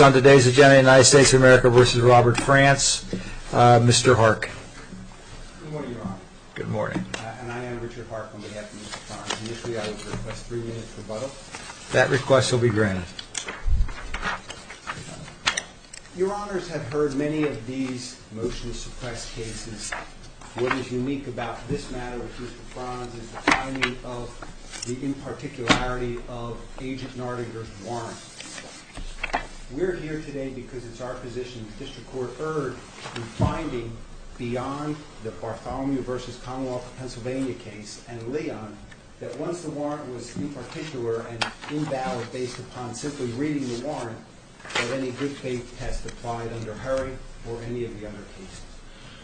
on today's agenda, United States of America v. Robert Franz. Mr. Hark. Good morning, Your Honor. Good morning. And I am Richard Hark on behalf of Mr. Franz. Initially, I would request three minutes rebuttal. That request will be granted. Your Honors have heard many of these motion-suppressed cases. What is unique about this matter with Mr. Franz is the timing of the in-particularity of Agent Nardinger's warrant. We're here today because it's our position that the District Court erred in finding beyond the Bartholomew v. Commonwealth of Pennsylvania case and Leon that once the warrant was in particular and invalid based upon simply reading the warrant, that any good faith test applied under Harry or any of the other cases.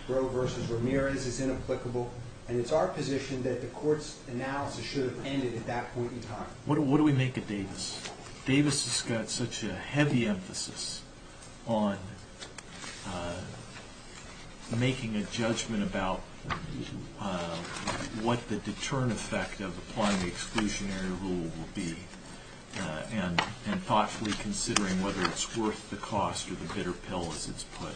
Grove v. Ramirez is inapplicable, and it's our position that the Court's analysis should have ended at that point in time. What do we make of Davis? Davis has got such a heavy emphasis on making a judgment about what the deterrent effect of applying the exclusionary rule will be and thoughtfully considering whether it's worth the cost or the bitter pill, as it's put,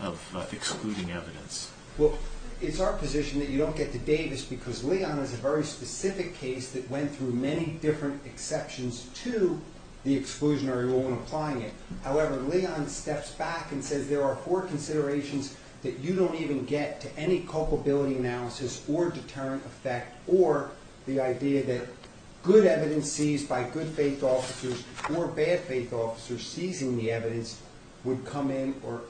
of excluding evidence. Well, it's our position that you don't get to Davis because Leon is a very specific case that went through many different exceptions to the exclusionary rule when applying it. However, Leon steps back and says there are four considerations that you don't even get to any culpability analysis or deterrent effect or the idea that good evidence seized by good faith officers or bad faith officers seizing the evidence would come in or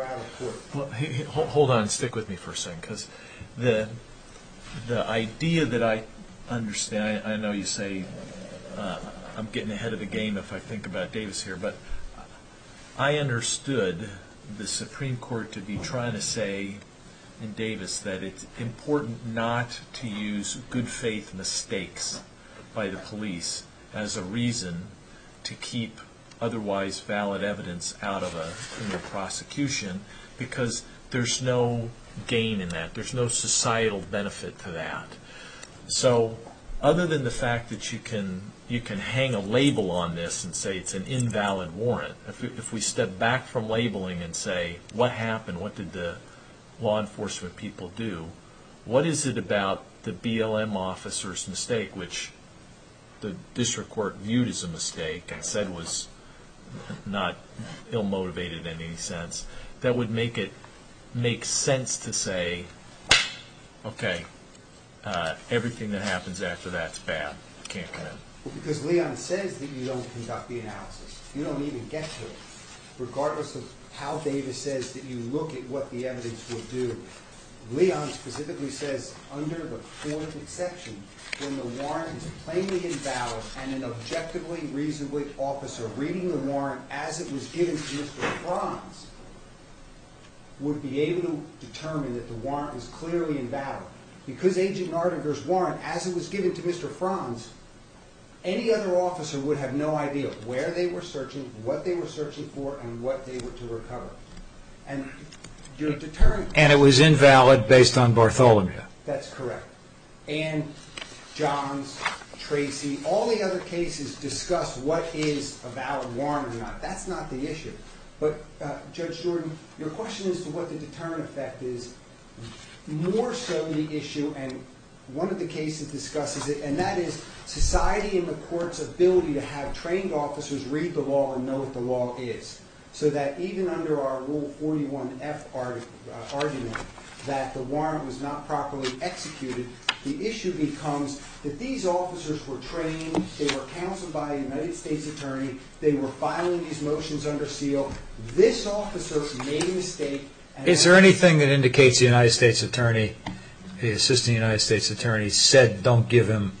out of court. Hold on, stick with me for a second, because the idea that I understand, I know you say I'm getting ahead of the game if I think about Davis here, but I understood the Supreme Court to be trying to say in Davis that it's important not to use good faith mistakes by the police as a reason to keep otherwise valid evidence out of a criminal prosecution because there's no gain in that. There's no societal benefit to that. So other than the fact that you can hang a label on this and say it's an invalid warrant, if we step back from labeling and say what happened, what did the law enforcement people do, what is it about the BLM officer's mistake, which the district court viewed as a mistake and said was not ill-motivated in any sense, that would make it make sense to say, okay, everything that happens after that's bad, can't come in? Because Leon says that you don't conduct the analysis. You don't even get to it. Regardless of how Davis says that you look at what the evidence will do, Leon specifically says under the fourth exception, when the warrant is plainly invalid and an objectively reasonable officer reading the warrant as it was given to Mr. Franz would be able to determine that the warrant was clearly invalid. Because Agent Nardinger's warrant, as it was given to Mr. Franz, any other officer would have no idea where they were searching, what they were searching for, and what they were to recover. And it was invalid based on Bartholomew. That's correct. And Johns, Tracy, all the other cases discuss what is a valid warrant or not. That's not the issue. But Judge Jordan, your question as to what the deterrent effect is, more so the issue, and one of the cases discusses it, and that is society in the court's ability to have trained officers read the law and know what the law is. So that even under our Rule 41F argument that the warrant was not properly executed, the issue becomes that these officers were trained, they were counseled by a United States attorney, they were filing these motions under seal. This officer made a mistake. Is there anything that indicates the United States attorney, the assistant United States attorney, said don't give him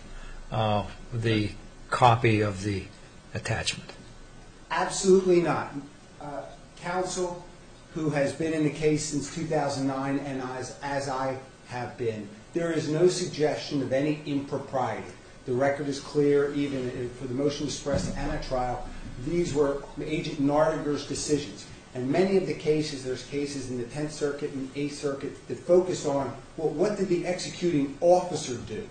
the copy of the attachment? Absolutely not. Counsel who has been in the case since 2009, and as I have been, there is no suggestion of any impropriety. The record is clear, even for the motion to suppress the anti-trial. These were Agent Nardinger's decisions. In many of the cases, there's cases in the Tenth Circuit and Eighth Circuit that focus on, well, what did the executing officer do?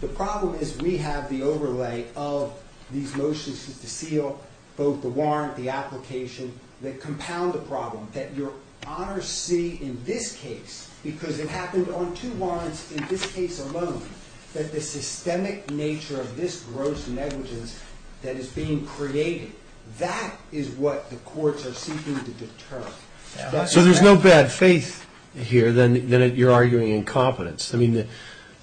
The problem is we have the overlay of these motions to seal both the warrant, the application, that compound the problem, that your honors see in this case, because it happened on two warrants in this case alone, that the systemic nature of this gross negligence that is being created, that is what the courts are seeking to deter. So there's no bad faith here, then you're arguing incompetence. I mean,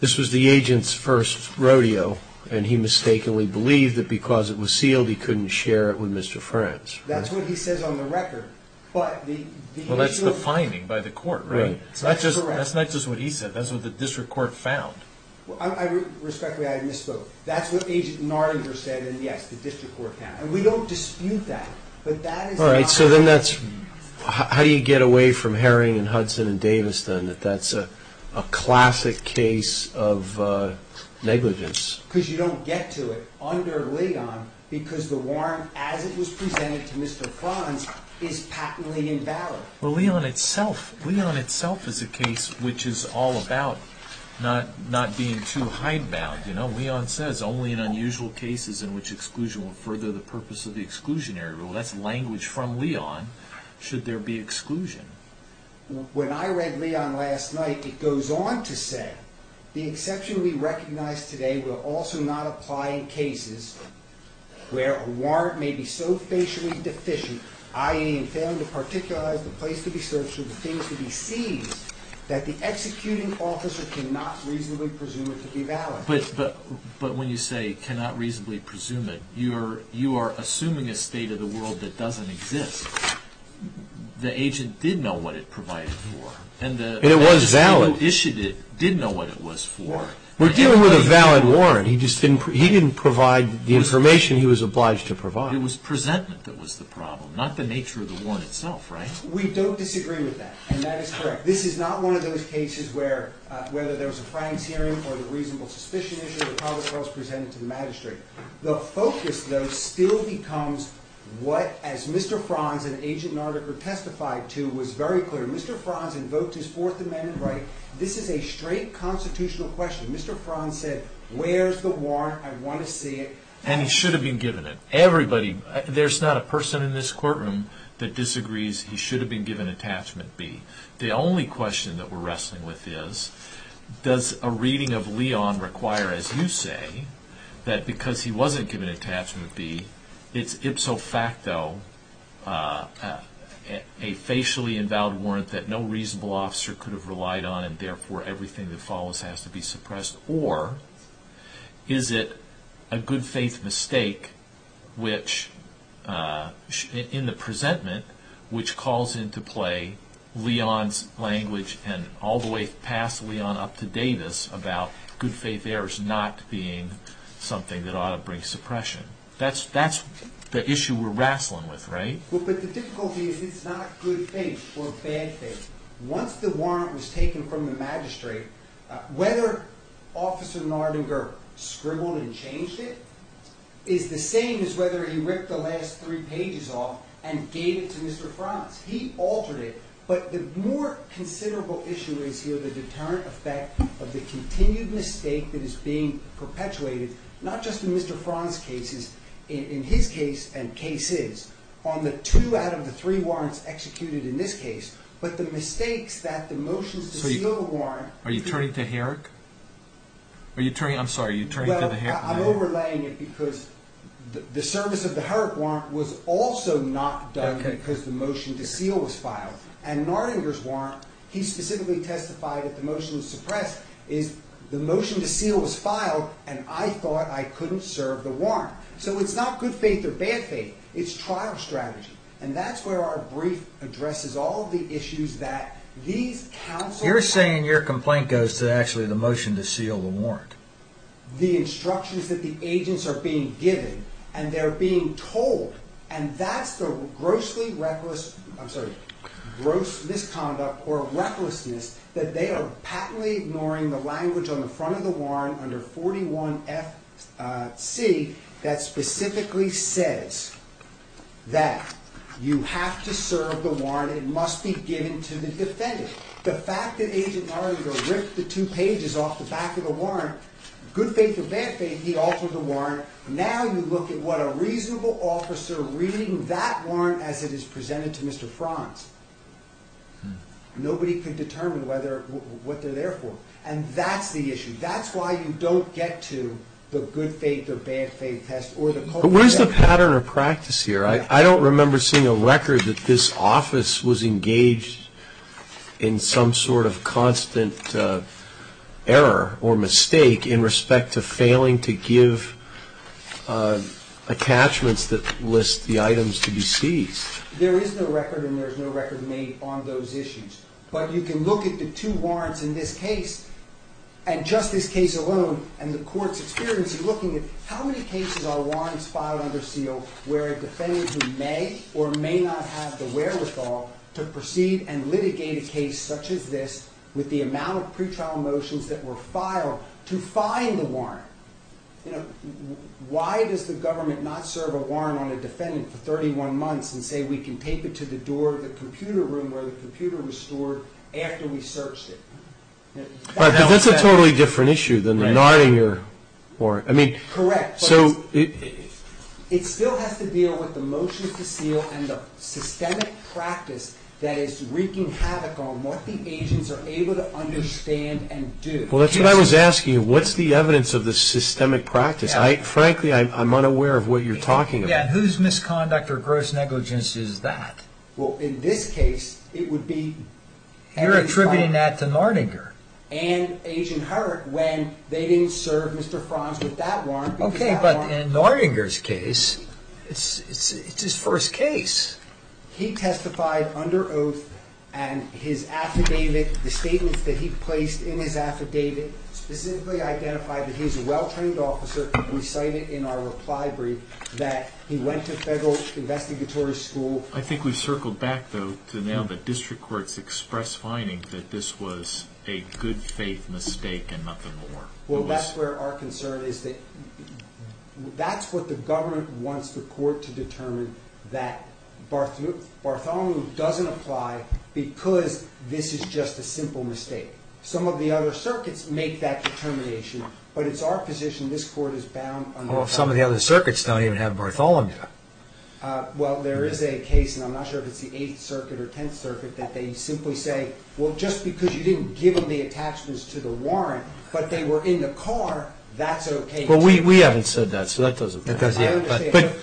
this was the agent's first rodeo, and he mistakenly believed that because it was sealed he couldn't share it with Mr. Franz. That's what he says on the record. Well, that's the finding by the court, right? That's correct. That's not just what he said. That's what the district court found. Respectfully, I misspoke. That's what Agent Nardinger said, and yes, the district court found. And we don't dispute that. All right, so then that's how do you get away from Herring and Hudson and Davis, then, that that's a classic case of negligence? Because you don't get to it under Leon, because the warrant as it was presented to Mr. Franz is patently invalid. Well, Leon itself is a case which is all about not being too hidebound. You know, Leon says, only in unusual cases in which exclusion will further the purpose of the exclusionary rule. That's language from Leon, should there be exclusion. When I read Leon last night, it goes on to say, the exception we recognize today will also not apply in cases where a warrant may be so facially deficient, i.e., in failing to particularize the place to be searched or the things to be seized, that the executing officer cannot reasonably presume it to be valid. But when you say cannot reasonably presume it, you are assuming a state of the world that doesn't exist. The agent did know what it provided for. And it was valid. And the person who issued it did know what it was for. We're dealing with a valid warrant. He didn't provide the information he was obliged to provide. It was presentment that was the problem, not the nature of the warrant itself, right? We don't disagree with that, and that is correct. This is not one of those cases where, whether there was a Frank's hearing or the reasonable suspicion issue, the public trial is presented to the magistrate. The focus, though, still becomes what, as Mr. Franz and Agent Nardiker testified to, was very clear. Mr. Franz invoked his Fourth Amendment right. This is a straight constitutional question. Mr. Franz said, where's the warrant? I want to see it. And he should have been given it. Everybody, there's not a person in this courtroom that disagrees he should have been given Attachment B. The only question that we're wrestling with is, does a reading of Leon require, as you say, that because he wasn't given Attachment B, it's ipso facto a facially invalid warrant that no reasonable officer could have relied on and, therefore, everything that follows has to be suppressed? Or is it a good faith mistake which, in the presentment, which calls into play Leon's language and all the way past Leon up to Davis about good faith errors not being something that ought to bring suppression. That's the issue we're wrestling with, right? But the difficulty is it's not good faith or bad faith. Once the warrant was taken from the magistrate, whether Officer Nardinger scribbled and changed it is the same as whether he ripped the last three pages off and gave it to Mr. Franz. He altered it, but the more considerable issue is here the deterrent effect of the continued mistake that is being perpetuated, not just in Mr. Franz's cases, in his case and cases, on the two out of the three warrants executed in this case, but the mistakes that the motions to seal the warrant are you turning to Herrick? Are you turning, I'm sorry, are you turning to the Herrick? Well, I'm overlaying it because the service of the Herrick warrant was also not done because the motion to seal was filed. And Nardinger's warrant, he specifically testified that the motion to suppress is the motion to seal was filed and I thought I couldn't serve the warrant. So it's not good faith or bad faith. It's trial strategy. And that's where our brief addresses all the issues that these counsels You're saying your complaint goes to actually the motion to seal the warrant. The instructions that the agents are being given and they're being told and that's the gross misconduct or recklessness that they are patently ignoring the language on the front of the warrant under 41FC that specifically says that you have to serve the warrant and it must be given to the defendant. The fact that Agent Nardinger ripped the two pages off the back of the warrant, good faith or bad faith, he altered the warrant. Now you look at what a reasonable officer reading that warrant as it is presented to Mr. Franz. Nobody could determine what they're there for. And that's the issue. That's why you don't get to the good faith or bad faith test or the But where's the pattern of practice here? I don't remember seeing a record that this office was engaged in some sort of constant error or mistake in respect to failing to give attachments that list the items to be seized. There is no record and there's no record made on those issues. But you can look at the two warrants in this case and just this case alone and the court's experience in looking at how many cases are warrants filed where a defendant who may or may not have the wherewithal to proceed and litigate a case such as this with the amount of pre-trial motions that were filed to find the warrant. Why does the government not serve a warrant on a defendant for 31 months and say we can tape it to the door of the computer room where the computer was stored after we searched it? That's a totally different issue than the Nardinger warrant. Correct. It still has to deal with the motions to seal and the systemic practice that is wreaking havoc on what the agents are able to understand and do. Well, that's what I was asking you. What's the evidence of the systemic practice? Frankly, I'm unaware of what you're talking about. Whose misconduct or gross negligence is that? Well, in this case, it would be Harry Franz. You're attributing that to Nardinger. And Agent Hurd when they didn't serve Mr. Franz with that warrant Okay, but in Nardinger's case, it's his first case. He testified under oath and his affidavit, the statements that he placed in his affidavit specifically identified that he's a well-trained officer. We cite it in our reply brief that he went to federal investigatory school. I think we circled back, though, to now the district courts express finding that this was a good faith mistake and nothing more. Well, that's where our concern is that that's what the government wants the court to determine that Bartholomew doesn't apply because this is just a simple mistake. Some of the other circuits make that determination, but it's our position this court is bound on Bartholomew. Well, some of the other circuits don't even have Bartholomew. Well, there is a case, and I'm not sure if it's the Eighth Circuit or Tenth Circuit, that they simply say, well, just because you didn't give them the attachments to the warrant but they were in the car, that's okay too. Well, we haven't said that, so that doesn't matter. But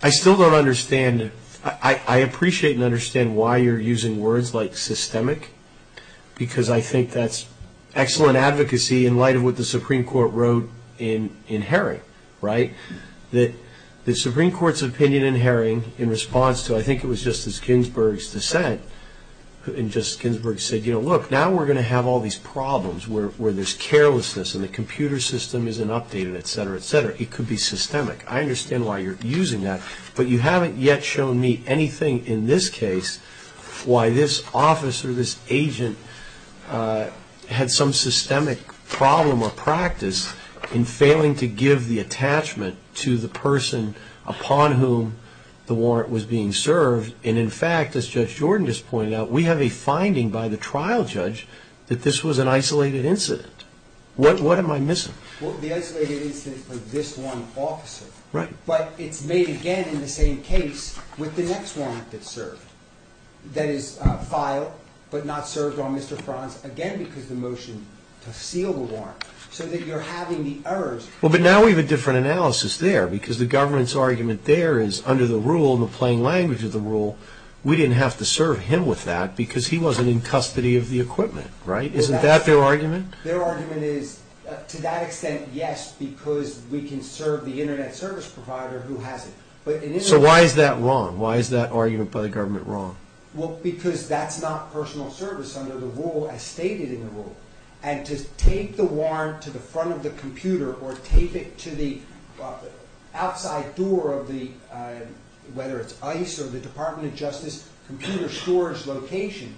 I still don't understand. I appreciate and understand why you're using words like systemic because I think that's excellent advocacy in light of what the Supreme Court wrote in Herring, right, that the Supreme Court's opinion in Herring in response to, I think it was Justice Ginsburg's dissent, and Justice Ginsburg said, you know, look, now we're going to have all these problems where there's carelessness and the computer system isn't updated, et cetera, et cetera. It could be systemic. I understand why you're using that, but you haven't yet shown me anything in this case why this officer, this agent, had some systemic problem or practice in failing to give the attachment to the person upon whom the warrant was being served. And in fact, as Judge Jordan just pointed out, we have a finding by the trial judge that this was an isolated incident. What am I missing? Well, the isolated incident for this one officer. Right. But it's made again in the same case with the next warrant that's served that is filed but not served on Mr. Franz again because of the motion to seal the warrant, so that you're having the errors. Well, but now we have a different analysis there because the government's argument there is under the rule and the language of the rule, we didn't have to serve him with that because he wasn't in custody of the equipment, right? Isn't that their argument? Their argument is to that extent, yes, because we can serve the Internet service provider who has it. So why is that wrong? Why is that argument by the government wrong? Well, because that's not personal service under the rule as stated in the rule. And to take the warrant to the front of the computer or tape it to the outside door of the, whether it's ICE or the Department of Justice computer storage location,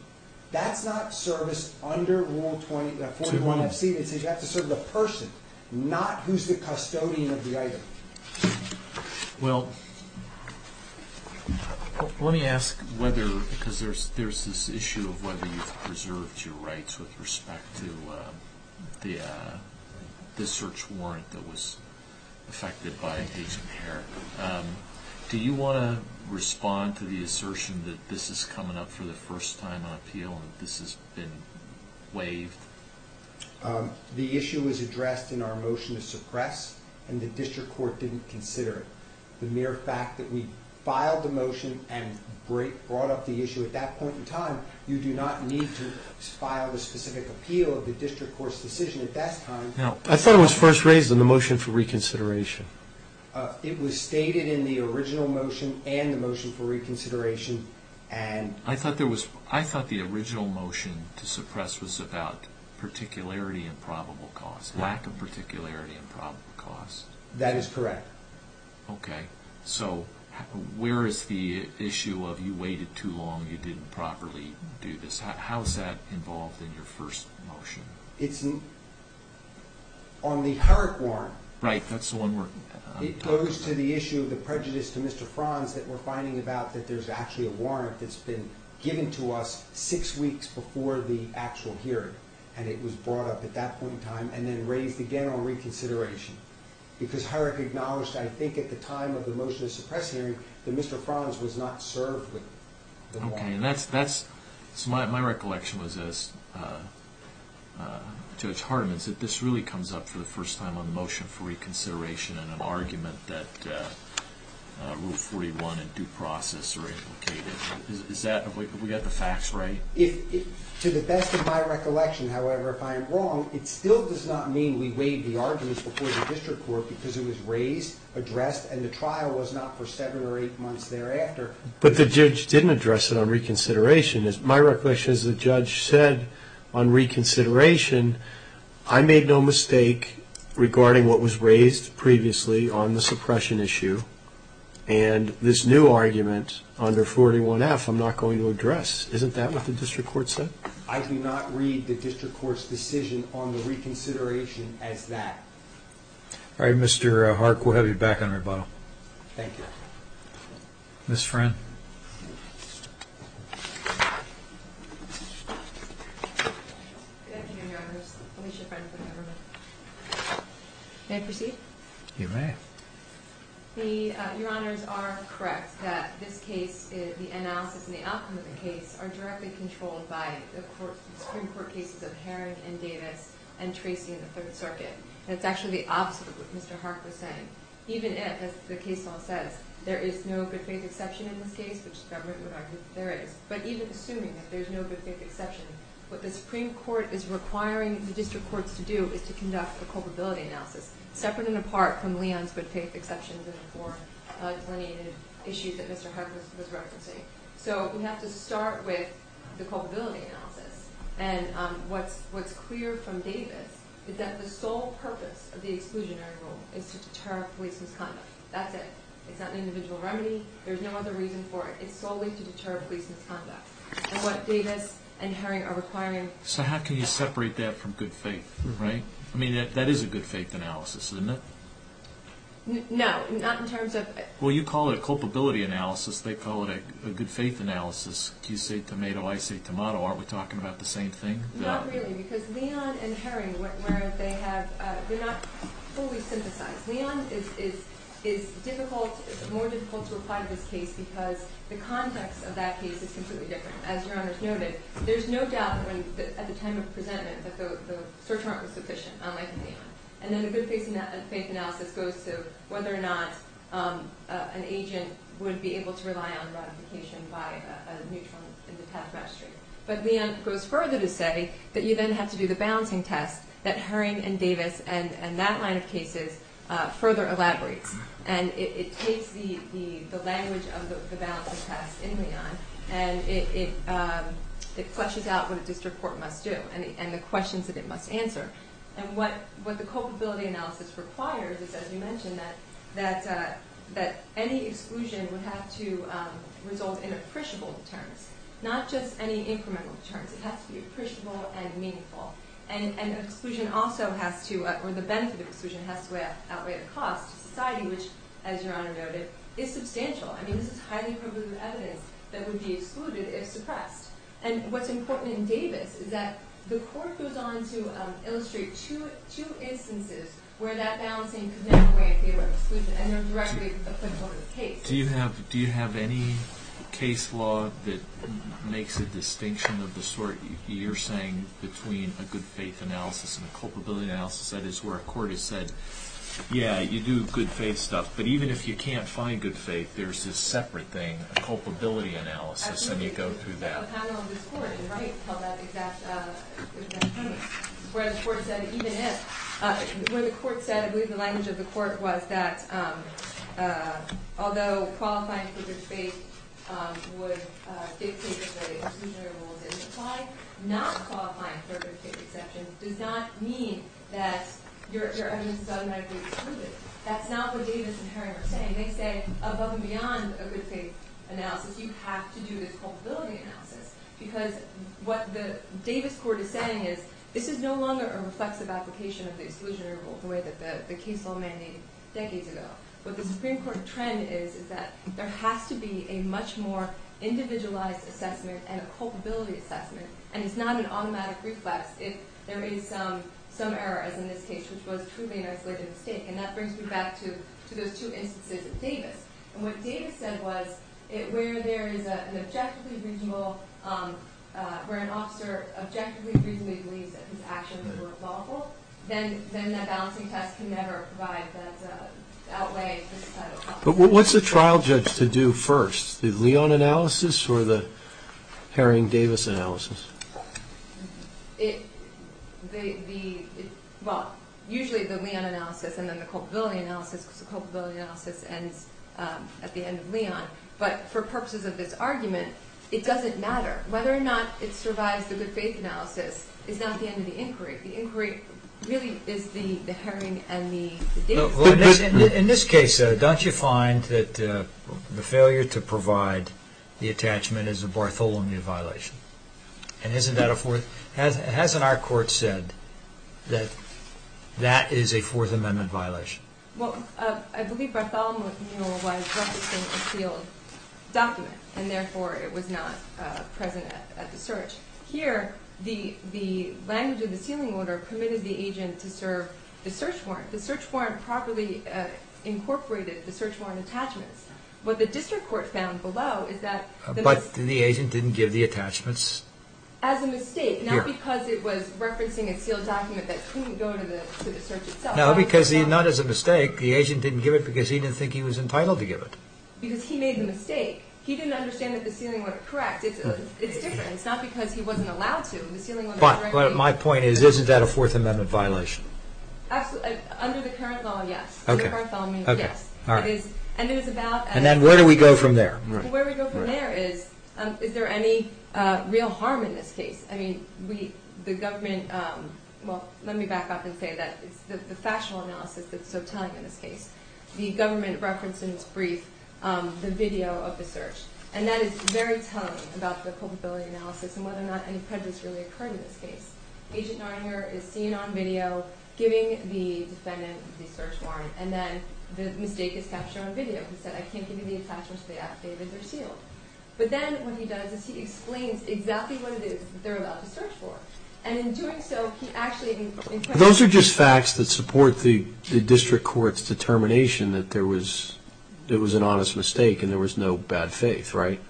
that's not service under Rule 41 FC. You have to serve the person, not who's the custodian of the item. Well, let me ask whether, because there's this issue of whether you've preserved your rights with respect to the search warrant that was effected by Agent Hare. Do you want to respond to the assertion that this is coming up for the first time on appeal and that this has been waived? The issue was addressed in our motion to suppress and the district court didn't consider it. The mere fact that we filed the motion and brought up the issue at that point in time, you do not need to file the specific appeal of the district court's decision at that time. I thought it was first raised in the motion for reconsideration. It was stated in the original motion and the motion for reconsideration. I thought the original motion to suppress was about particularity and probable cause, lack of particularity and probable cause. That is correct. Okay. So where is the issue of you waited too long, you didn't properly do this. How is that involved in your first motion? It's on the Herrick warrant. Right, that's the one we're talking about. It goes to the issue of the prejudice to Mr. Franz that we're finding about that there's actually a warrant that's been given to us six weeks before the actual hearing and it was brought up at that point in time and then raised again on reconsideration because Herrick acknowledged, I think, at the time of the motion to suppress hearing that Mr. Franz was not served with the warrant. Okay, and that's... So my recollection was as Judge Hardeman is that this really comes up for the first time on the motion for reconsideration in an argument that Rule 41 and due process are implicated. Is that... We got the facts right? To the best of my recollection, however, if I am wrong, it still does not mean we waived the argument before the district court because it was raised, addressed, and the trial was not for seven or eight months thereafter. But the judge didn't address it on reconsideration. My recollection is the judge said on reconsideration I made no mistake regarding what was raised previously on the suppression issue and this new argument under 41F I'm not going to address. Isn't that what the district court said? I do not read the district court's decision on the reconsideration as that. All right, Mr. Hark, we'll have you back on rebuttal. Thank you. Ms. Friend. Good afternoon, Your Honors. Alicia Friend with the government. May I proceed? You may. Your Honors are correct that this case, the analysis and the outcome of the case are directly controlled by the Supreme Court cases of Herring and Davis and Tracy in the Third Circuit. That's actually the opposite of what Mr. Hark was saying. Even if, as the case law says, there is no good faith exception in this case, which the government would argue that there is, but even assuming that there's no good faith exception, what the Supreme Court is requiring the district courts to do is to conduct a culpability analysis separate and apart from Leon's good faith exceptions and the four delineated issues that Mr. Hark was referencing. So we have to start with the culpability analysis. And what's clear from Davis is that the sole purpose of the exclusionary rule is to deter police misconduct. That's it. It's not an individual remedy. There's no other reason for it. It's solely to deter police misconduct. And what Davis and Herring are requiring... So how can you separate that from good faith, right? I mean, that is a good faith analysis, isn't it? No, not in terms of... Well, you call it a culpability analysis. They call it a good faith analysis. You say tomato, I say tomato. Aren't we talking about the same thing? Not really, because Leon and Herring, where they have... They're not fully synthesized. Leon is difficult, more difficult to apply to this case because the context of that case is completely different. As Your Honor's noted, there's no doubt that at the time of the presentment that the search warrant was sufficient, unlike Leon. And then a good faith analysis goes to whether or not an agent would be able to rely on ratification by a neutral and detached magistrate. But Leon goes further to say that you then have to do the balancing test that Herring and Davis and that line of cases further elaborates. And it takes the language of the balancing test in Leon and it fleshes out what a district court must do and the questions that it must answer. And what the culpability analysis requires is, as you mentioned, that any exclusion would have to result in appreciable deterrence, not just any incremental deterrence. It has to be appreciable and meaningful. And exclusion also has to... Or the benefit of exclusion has to outweigh the cost to society, which, as Your Honor noted, is substantial. I mean, this is highly probative evidence that would be excluded if suppressed. And what's important in Davis is that the court goes on to illustrate two instances where that balancing could not be a way of dealing with exclusion and they're directly applicable to the case. Do you have any case law that makes a distinction of the sort you're saying between a good-faith analysis and a culpability analysis? That is, where a court has said, yeah, you do good-faith stuff, but even if you can't find good faith, there's this separate thing, a culpability analysis, and you go through that. Absolutely. There's a panel in this court, and I can't tell that exact point. Where the court said, even if... When the court said, I believe the language of the court was that although qualifying for good faith would dictate that the exclusionary rule is implied, not qualifying for a good-faith exception does not mean that your evidence is automatically excluded. That's not what Davis and Herring are saying. They say, above and beyond a good-faith analysis, you have to do this culpability analysis because what the Davis court is saying is this is no longer a reflexive application of the exclusionary rule the way that the case law mandated decades ago. What the Supreme Court trend is is that there has to be a much more individualized assessment and a culpability assessment, and it's not an automatic reflex if there is some error, as in this case, which was truly an isolated mistake. And that brings me back to those two instances of Davis. And what Davis said was where there is an objectively reasonable... where an officer objectively reasonably believes that his actions were lawful, then that balancing test can never provide... outweigh the societal consequences. But what's the trial judge to do first? The Leon analysis or the Herring-Davis analysis? Well, usually the Leon analysis and then the culpability analysis because the culpability analysis ends at the end of Leon. But for purposes of this argument, it doesn't matter. Whether or not it survives the good-faith analysis is not the end of the inquiry. The inquiry really is the Herring and the Davis. In this case, don't you find that the failure to provide the attachment is a Bartholomew violation? And isn't that a fourth... Hasn't our court said that that is a Fourth Amendment violation? Well, I believe Bartholomew was referencing a sealed document, and therefore it was not present at the search. Here, the language of the sealing order permitted the agent to serve the search warrant. The search warrant properly incorporated the search warrant attachments. What the district court found below is that... But the agent didn't give the attachments? As a mistake. Not because it was referencing a sealed document that couldn't go to the search itself. No, because not as a mistake. The agent didn't give it because he didn't think he was entitled to give it. Because he made the mistake. He didn't understand that the sealing order... In fact, it's different. It's not because he wasn't allowed to. But my point is, isn't that a Fourth Amendment violation? Under the current law, yes. Under the current law, yes. And then where do we go from there? Where we go from there is, is there any real harm in this case? The government... Well, let me back up and say that the factional analysis that's so telling in this case, the government referenced in its brief the video of the search. And that is very telling about the culpability analysis and whether or not any prejudice really occurred in this case. Agent Narnia is seen on video giving the defendant the search warrant and then the mistake is captured on video. He said, I can't give you the attachments. They have to be sealed. But then what he does is he explains exactly what it is that they're about to search for. And in doing so, he actually... Those are just facts that support the district court's determination that there was an honest mistake and there was no bad faith, right?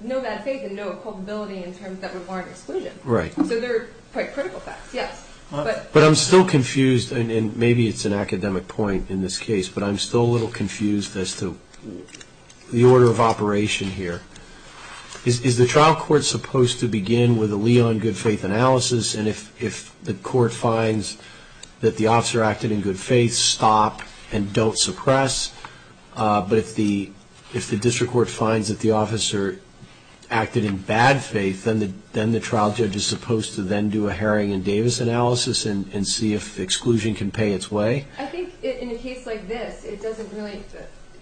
No bad faith and no culpability in terms of that warrant exclusion. Right. So they're quite critical facts, yes. But I'm still confused, and maybe it's an academic point in this case, but I'm still a little confused as to the order of operation here. Is the trial court supposed to begin with a liaison good faith analysis and if the court finds that the officer acted in good faith, stop and don't suppress? But if the district court finds that the officer acted in bad faith, then the trial judge is supposed to then do a Herring and Davis analysis and see if exclusion can pay its way? I think in a case like this, it doesn't really...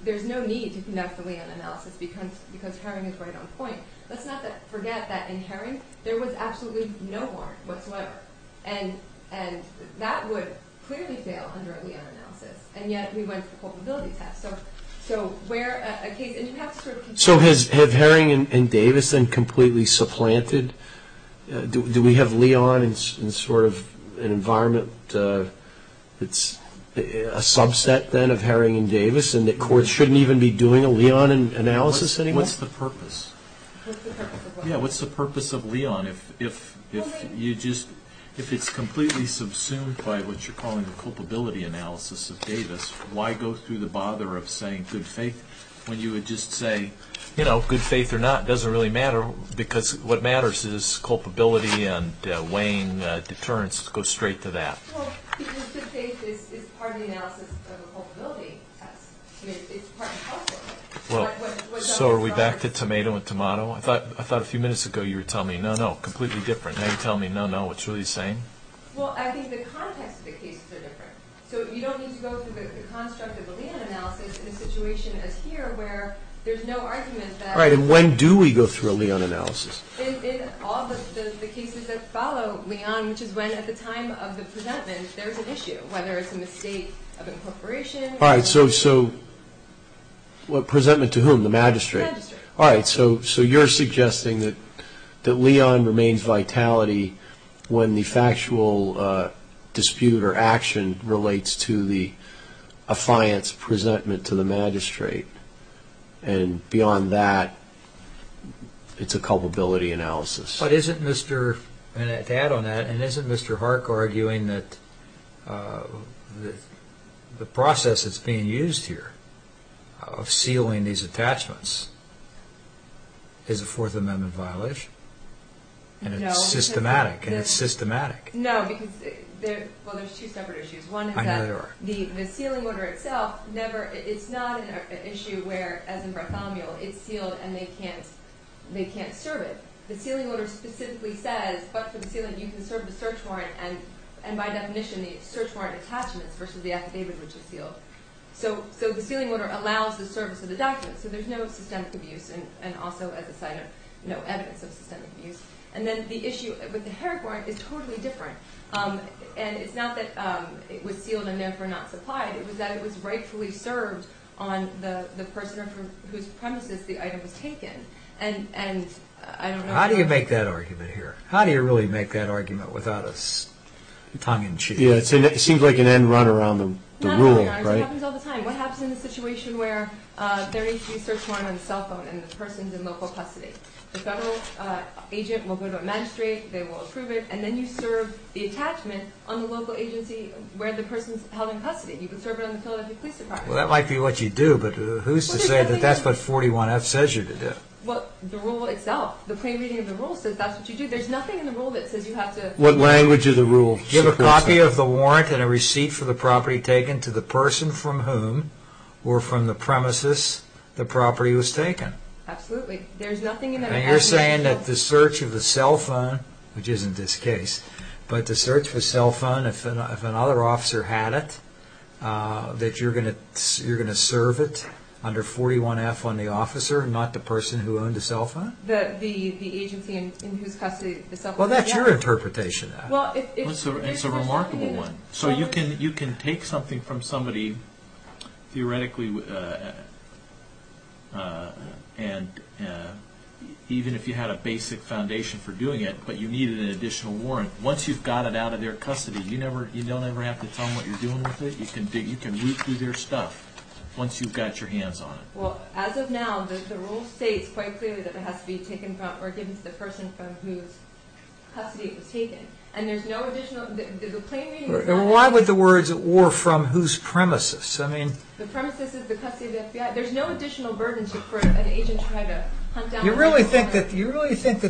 There's no need to conduct a lien analysis because Herring is right on point. Let's not forget that in Herring, there was absolutely no warrant whatsoever. And that would clearly fail under a lien analysis. And yet we went for culpability tests. So where a case... So has Herring and Davis been completely supplanted? Do we have lien in sort of an environment that's a subset then of Herring and Davis and that courts shouldn't even be doing a lien analysis anymore? What's the purpose? What's the purpose of what? Yeah, what's the purpose of lien if it's completely subsumed by what you're calling the culpability analysis of Davis? Why go through the bother of saying good faith when you would just say, you know, good faith or not doesn't really matter because what matters is culpability and weighing deterrence. Go straight to that. So are we back to tomato and tomato? I thought a few minutes ago you were telling me, no, no, completely different. Now you're telling me, no, no, what's really the same? The context of the cases are different. So you don't need to go through the construct of a lien analysis in a situation as here where there's no argument that... All right, and when do we go through a lien analysis? In all the cases that follow lien, which is when at the time of the presentment there's an issue, whether it's a mistake of incorporation... All right, so... What, presentment to whom, the magistrate? The magistrate. All right, so you're suggesting that lien remains vitality when the factual dispute or action relates to the affiance presentment to the magistrate. And beyond that, it's a culpability analysis. But isn't Mr... And to add on that, and isn't Mr. Hark arguing that the process that's being used here of sealing these attachments is a Fourth Amendment violation? And it's systematic, and it's systematic. No, because there's two separate issues. One is that the sealing order itself never... It's not an issue where, as in Bartholomew, it's sealed and they can't serve it. The sealing order specifically says, but for the sealing, you can serve the search warrant, and by definition, the search warrant attachments versus the affidavit which is sealed. So the sealing order allows the service of the documents. So there's no systemic abuse, and also as a sign of no evidence of systemic abuse. And then the issue with the Herrick warrant is totally different. And it's not that it was sealed and therefore not supplied. It was that it was rightfully served on the person from whose premises the item was taken. And I don't know... How do you make that argument here? How do you really make that argument without a tongue-in-cheek? Yeah, it seems like an end-runner on the rule, right? It happens all the time. What happens in a situation where there is a search warrant on the cell phone and the person's in local custody? The federal agent will go to a magistrate, they will approve it, and then you serve the attachment on the local agency where the person's held in custody. You can serve it on the Philadelphia Police Department. Well, that might be what you do, but who's to say that that's what 41F says you to do? Well, the rule itself. The plain reading of the rule says that's what you do. There's nothing in the rule that says you have to... What language of the rule? Give a copy of the warrant and a receipt for the property taken to the person from whom, or from the premises, the property was taken. Absolutely. There's nothing in that... And you're saying that the search of a cell phone, which isn't this case, but the search of a cell phone, if another officer had it, that you're going to serve it under 41F on the officer, not the person who owned the cell phone? The agency in whose custody the cell phone was... Well, that's your interpretation of it. It's a remarkable one. So you can take something from somebody, theoretically, even if you had a basic foundation for doing it, but you needed an additional warrant. Once you've got it out of their custody, you don't ever have to tell them what you're doing with it. You can root through their stuff once you've got your hands on it. Well, as of now, the rule states quite clearly that it has to be taken from or given to the person from whose custody it was taken. And there's no additional... Why would the words, or from whose premises? The premises is the custody of the FBI. There's no additional burden for an agent to try to hunt down... You really think that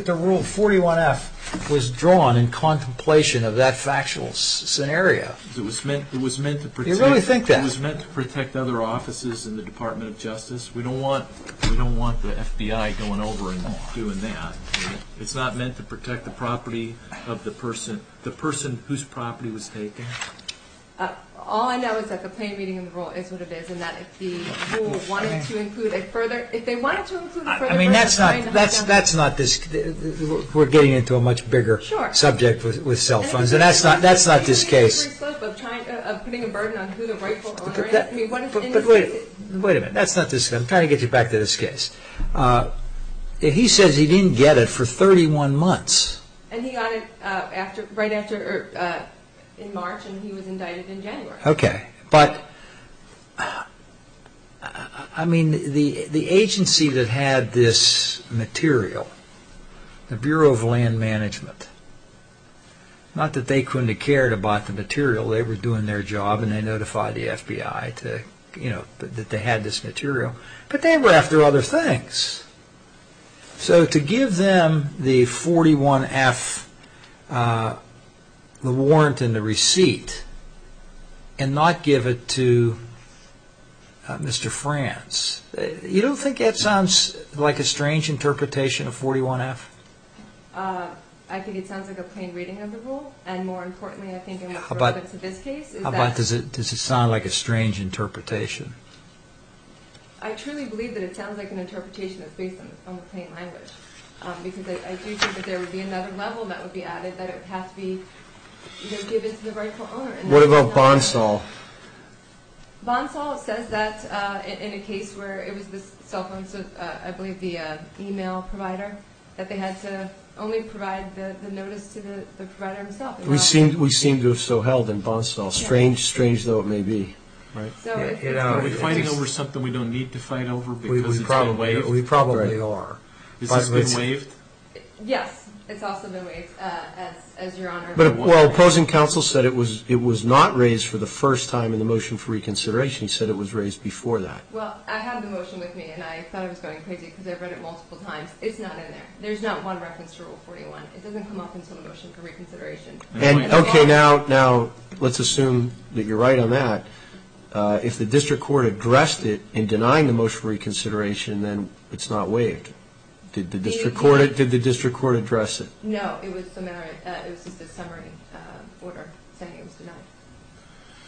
the rule 41F was drawn in contemplation of that factual scenario? You really think that? It was meant to protect other offices in the Department of Justice. We don't want the FBI going over and doing that. It's not meant to protect the property of the person, the person whose property was taken? All I know is that the plain reading in the rule is what it is, and that if the rule wanted to include a further... If they wanted to include a further burden... I mean, that's not... We're getting into a much bigger subject with cell phones, and that's not this case. ...of putting a burden on who the rightful owner is... But wait a minute. I'm trying to get you back to this case. He says he didn't get it for 31 months. And he got it right after... in March, and he was indicted in January. Okay, but... I mean, the agency that had this material, the Bureau of Land Management... Not that they couldn't have cared about the material. They were doing their job, and they notified the FBI that they had this material. But they were after other things. So to give them the 41-F warrant and the receipt, and not give it to Mr. Franz... You don't think that sounds like a strange interpretation of 41-F? I think it sounds like a plain reading of the rule, and more importantly, I think, in this case... How about, does it sound like a strange interpretation? I truly believe that it sounds like an interpretation that's based on the plain language. Because I do think that there would be another level that would be added, that it would have to be given to the rightful owner. What about Bonsall? Bonsall says that in a case where it was the cell phone, I believe the email provider, that they had to only provide the notice to the provider himself. We seem to have so held in Bonsall. Strange, strange though it may be. Are we fighting over something we don't need to fight over? We probably are. Has this been waived? Yes, it's also been waived. Well, opposing counsel said it was not raised for the first time in the motion for reconsideration. He said it was raised before that. Well, I have the motion with me, and I thought it was going crazy because I've read it multiple times. It's not in there. There's not one reference to Rule 41. It doesn't come up until the motion for reconsideration. Okay, now let's assume that you're right on that. If the district court addressed it in denying the motion for reconsideration, then it's not waived. Did the district court address it? No, it was just a summary order saying it was denied.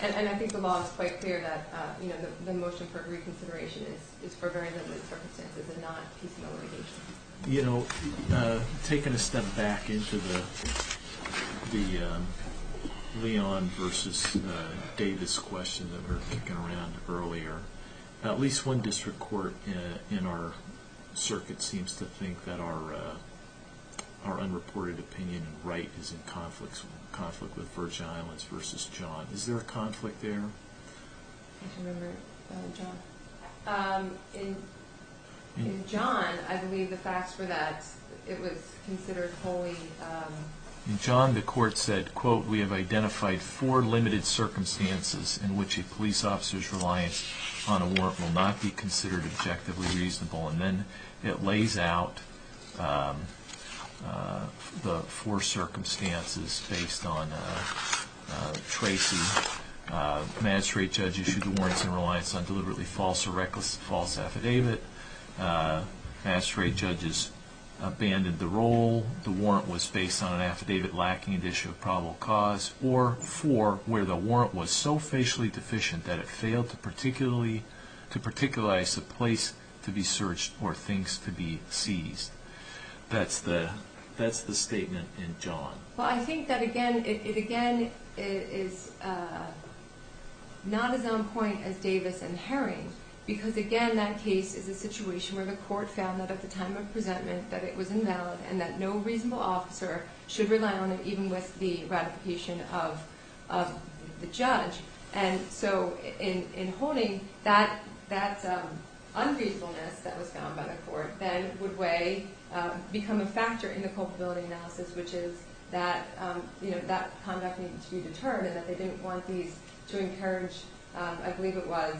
And I think the law is quite clear that the motion for reconsideration is for very limited circumstances and not PCO litigation. Taking a step back into the Leon versus Davis question that we were thinking around earlier, at least one district court in our circuit seems to think that our unreported opinion and right is in conflict with Virgin Islands versus John. Is there a conflict there? I can remember John. In John, I believe the facts were that it was considered wholly. In John, the court said, quote, we have identified four limited circumstances in which a police officer's reliance on a warrant will not be considered objectively reasonable. And then it lays out the four circumstances based on Tracy. The magistrate judge issued the warrants in reliance on deliberately false or reckless false affidavit. Magistrate judges abandoned the role. The warrant was based on an affidavit lacking an issue of probable cause or for where the warrant was so facially deficient that it failed to particularize the place to be searched or things to be seized. That's the statement in John. Well, I think that, again, it again is not as on point as Davis and Herring because, again, that case is a situation where the court found that at the time of the presentment that it was invalid and that no reasonable officer should rely on it even with the ratification of the judge. And so in Honig, that ungratefulness that was found by the court then would become a factor in the culpability analysis, which is that conduct needed to be determined and that they didn't want these to encourage, I believe it was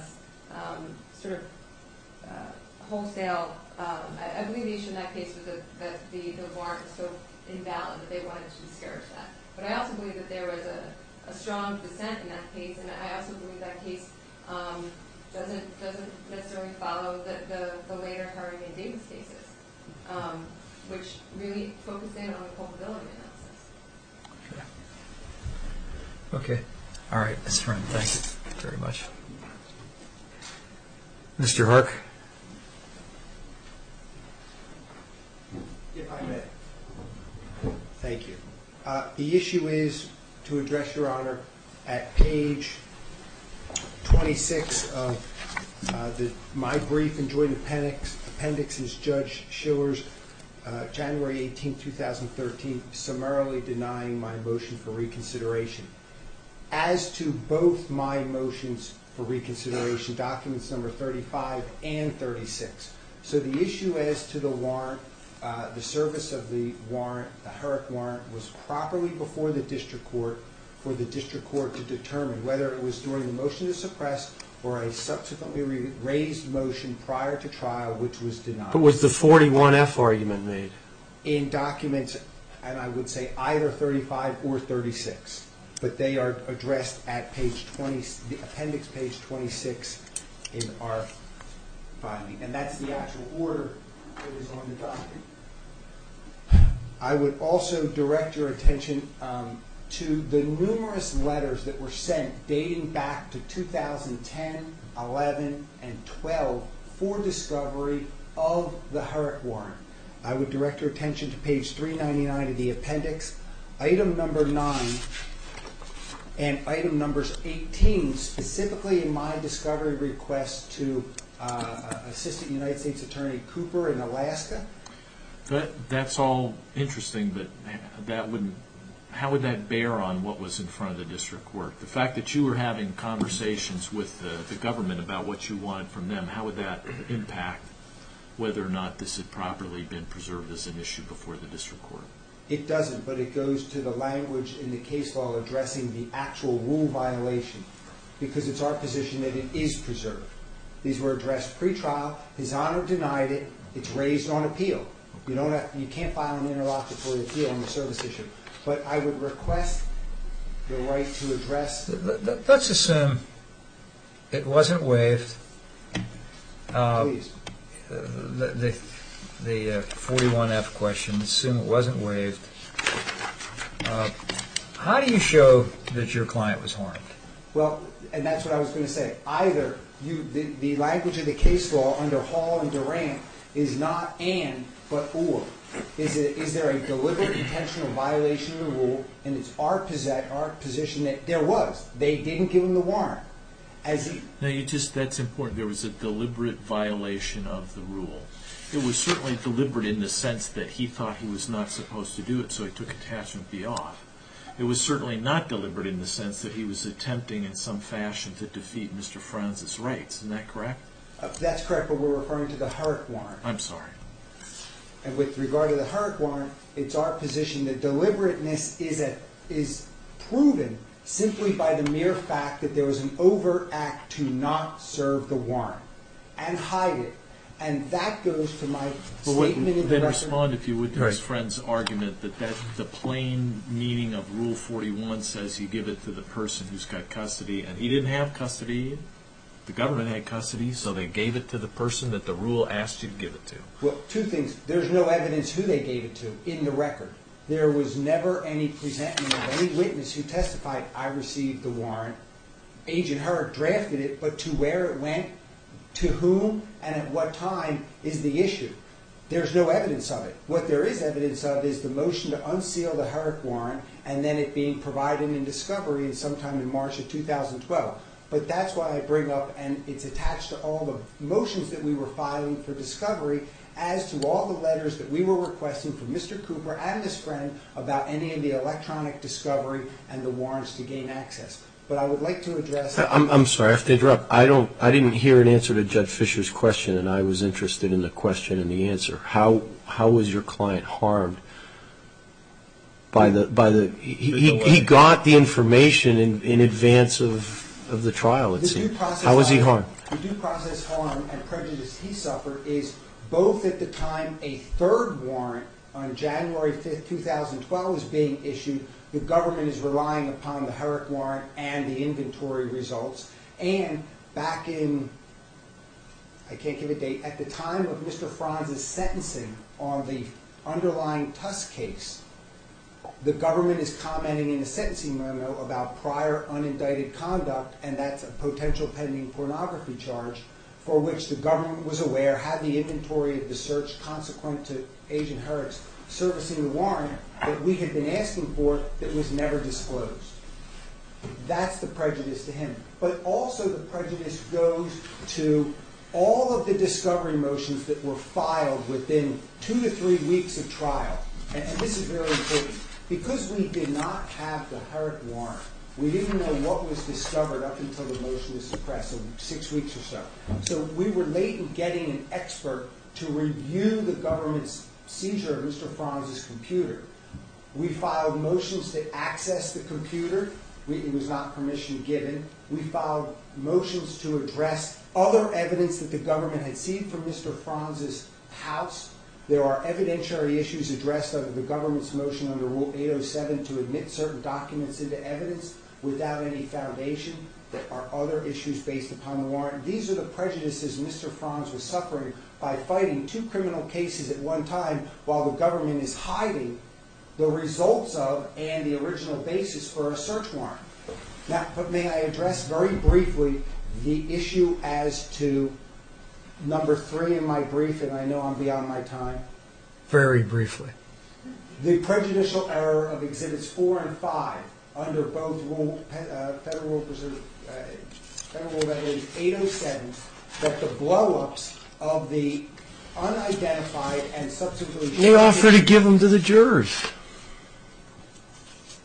sort of wholesale. I believe the issue in that case was that the warrant was so invalid that they wanted to discourage that. But I also believe that there was a strong dissent in that case, and I also believe that case doesn't necessarily follow the later Herring and Davis cases, which really focused in on the culpability analysis. Okay. Okay. All right. Mr. Herring, thank you very much. Mr. Hark? If I may. Thank you. The issue is to address, Your Honor, at page 26 of my brief and joint appendix is Judge Schiller's January 18, 2013, summarily denying my motion for reconsideration. As to both my motions for reconsideration, documents number 35 and 36, so the issue as to the warrant, the service of the warrant, the Herrick warrant was properly before the district court for the district court to determine whether it was during the motion to suppress or a subsequently raised motion prior to trial which was denied. But was the 41F argument made? In documents, and I would say either 35 or 36, but they are addressed at appendix page 26 in our filing, and that's the actual order that is on the document. I would also direct your attention to the numerous letters that were sent dating back to 2010, 11, and 12 for discovery of the Herrick warrant. I would direct your attention to page 399 of the appendix, item number 9, and item number 18, specifically in my discovery request to Assistant United States Attorney Cooper in Alaska. That's all interesting, but how would that bear on what was in front of the district court? The fact that you were having conversations with the government about what you wanted from them, how would that impact whether or not this had properly been preserved as an issue before the district court? It doesn't, but it goes to the language in the case law addressing the actual rule violation because it's our position that it is preserved. These were addressed pre-trial. His Honor denied it. It's raised on appeal. You can't file an interlocutory appeal on a service issue, but I would request your right to address... Let's assume it wasn't waived. Please. The 41F question, assume it wasn't waived. How do you show that your client was harmed? Well, and that's what I was going to say. Either the language of the case law under Hall and Durant is not and but or. Is there a deliberate intentional violation of the rule, and it's our position that there was. They didn't give him the warrant. That's important. There was a deliberate violation of the rule. It was certainly deliberate in the sense that he thought he was not supposed to do it, so he took attachment B off. It was certainly not deliberate in the sense that he was attempting in some fashion to defeat Mr. Franz's rights. Isn't that correct? That's correct, but we're referring to the Hurrick warrant. I'm sorry. With regard to the Hurrick warrant, it's our position that deliberateness is proven simply by the mere fact that there was an overact to not serve the warrant and hide it, and that goes to my statement in the record. Then respond, if you would, to his friend's argument that the plain meaning of Rule 41 says you give it to the person who's got custody, and he didn't have custody. The government had custody, so they gave it to the person that the rule asked you to give it to. Well, two things. There's no evidence who they gave it to in the record. There was never any witness who testified, I received the warrant, Agent Hurrick drafted it, but to where it went, to whom, and at what time is the issue. There's no evidence of it. What there is evidence of is the motion to unseal the Hurrick warrant and then it being provided in discovery sometime in March of 2012, but that's why I bring up and it's attached to all the motions that we were filing for discovery as to all the letters that we were requesting from Mr. Cooper and his friend about any of the electronic discovery and the warrants to gain access. But I would like to address. I'm sorry, I have to interrupt. I didn't hear an answer to Judd Fisher's question, and I was interested in the question and the answer. How was your client harmed by the? He got the information in advance of the trial, it seems. How was he harmed? The due process harm and prejudice he suffered is both at the time a third warrant on January 5th, 2012 is being issued, the government is relying upon the Hurrick warrant and the inventory results, and back in, I can't give a date, at the time of Mr. Franz's sentencing on the underlying Tusk case, the government is commenting in the sentencing memo about prior unindicted conduct, and that's a potential pending pornography charge for which the government was aware, had the inventory of the search consequent to agent hurts servicing the warrant that we had been asking for that was never disclosed. That's the prejudice to him, but also the prejudice goes to all of the discovery motions that were filed within two to three weeks of trial. And this is very important because we did not have the heart warrant. We didn't know what was discovered up until the motion was suppressed in six weeks or so. So we were late in getting an expert to review the government's seizure of Mr. Franz's computer. We filed motions to access the computer. We, it was not permission given. We filed motions to address other evidence that the government had seen from Mr. Franz's house. There are evidentiary issues addressed under the government's motion under rule 807 to admit certain documents into evidence without any foundation. There are other issues based upon the warrant. These are the prejudices Mr. Franz was suffering by fighting two criminal cases at one time while the government is hiding the results of, and the original basis for a search warrant. I know I'm beyond my time. Very briefly. The prejudicial error of exhibits four and five under both federal preservers. 807 that the blow ups of the unidentified and subsequently they offer to give them to the jurors.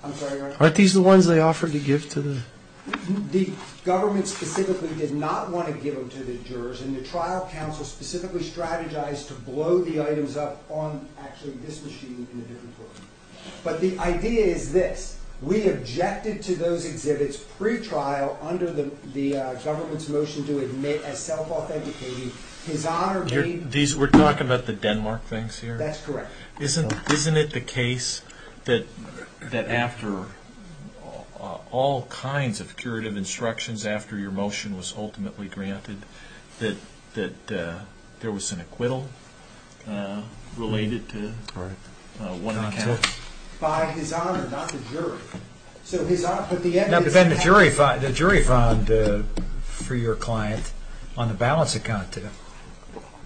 I'm sorry, aren't these the ones they offered to give to the government specifically did not want to give them to the jurors. And the trial counsel specifically strategized to blow the items up on actually this machine in a different way. But the idea is this. We objected to those exhibits pre-trial under the government's motion to admit as self-authenticating. His honor made. We're talking about the Denmark things here. That's correct. Isn't it the case that after all kinds of curative instructions after your that there was an acquittal related to one account. By his honor, not the jury. So his honor put the evidence. The jury found for your client on the balance account.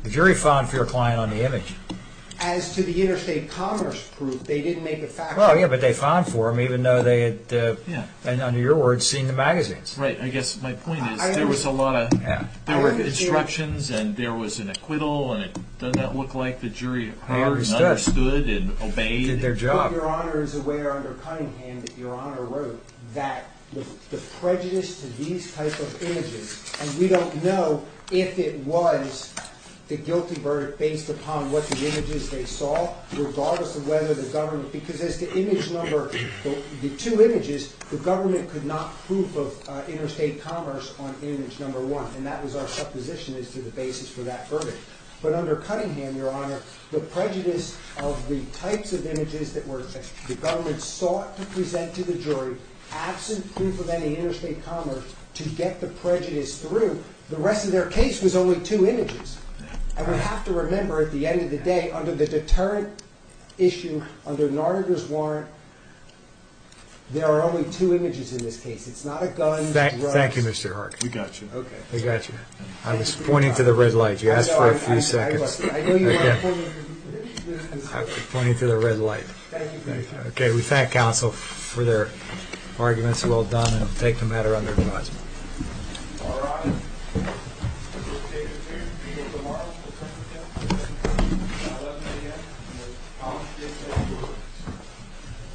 The jury found for your client on the image. As to the interstate commerce proof, they didn't make the factual. Yeah, but they found for him even though they had, under your words, seen the magazines. Right. I guess my point is, there was a lot of instructions and there was an acquittal. And it does not look like the jury. I understood and obeyed their job. Your honor is aware under Cunningham that your honor wrote that the prejudice to these types of images. And we don't know if it was the guilty verdict based upon what the images they saw, regardless of whether the government, because as the image number, the two images, the government could not prove of interstate commerce on image number one. And that was our supposition is to the basis for that verdict. But under Cunningham, your honor, the prejudice of the types of images that were, the government sought to present to the jury absent proof of any interstate commerce to get the prejudice through the rest of their case was only two images. I would have to remember at the end of the day, under the deterrent issue, under Narder's warrant. There are only two images in this case. It's not a gun. Mr. Harkin. We got you. Okay. We got you. I was pointing to the red light. You asked for a few seconds. Pointing to the red light. Okay. We thank counsel for their arguments. Well done. And take the matter under. All right. We'll take it. Here's the people. Tomorrow. I'm going to get that. Yeah. Yeah. How much, did. Yeah.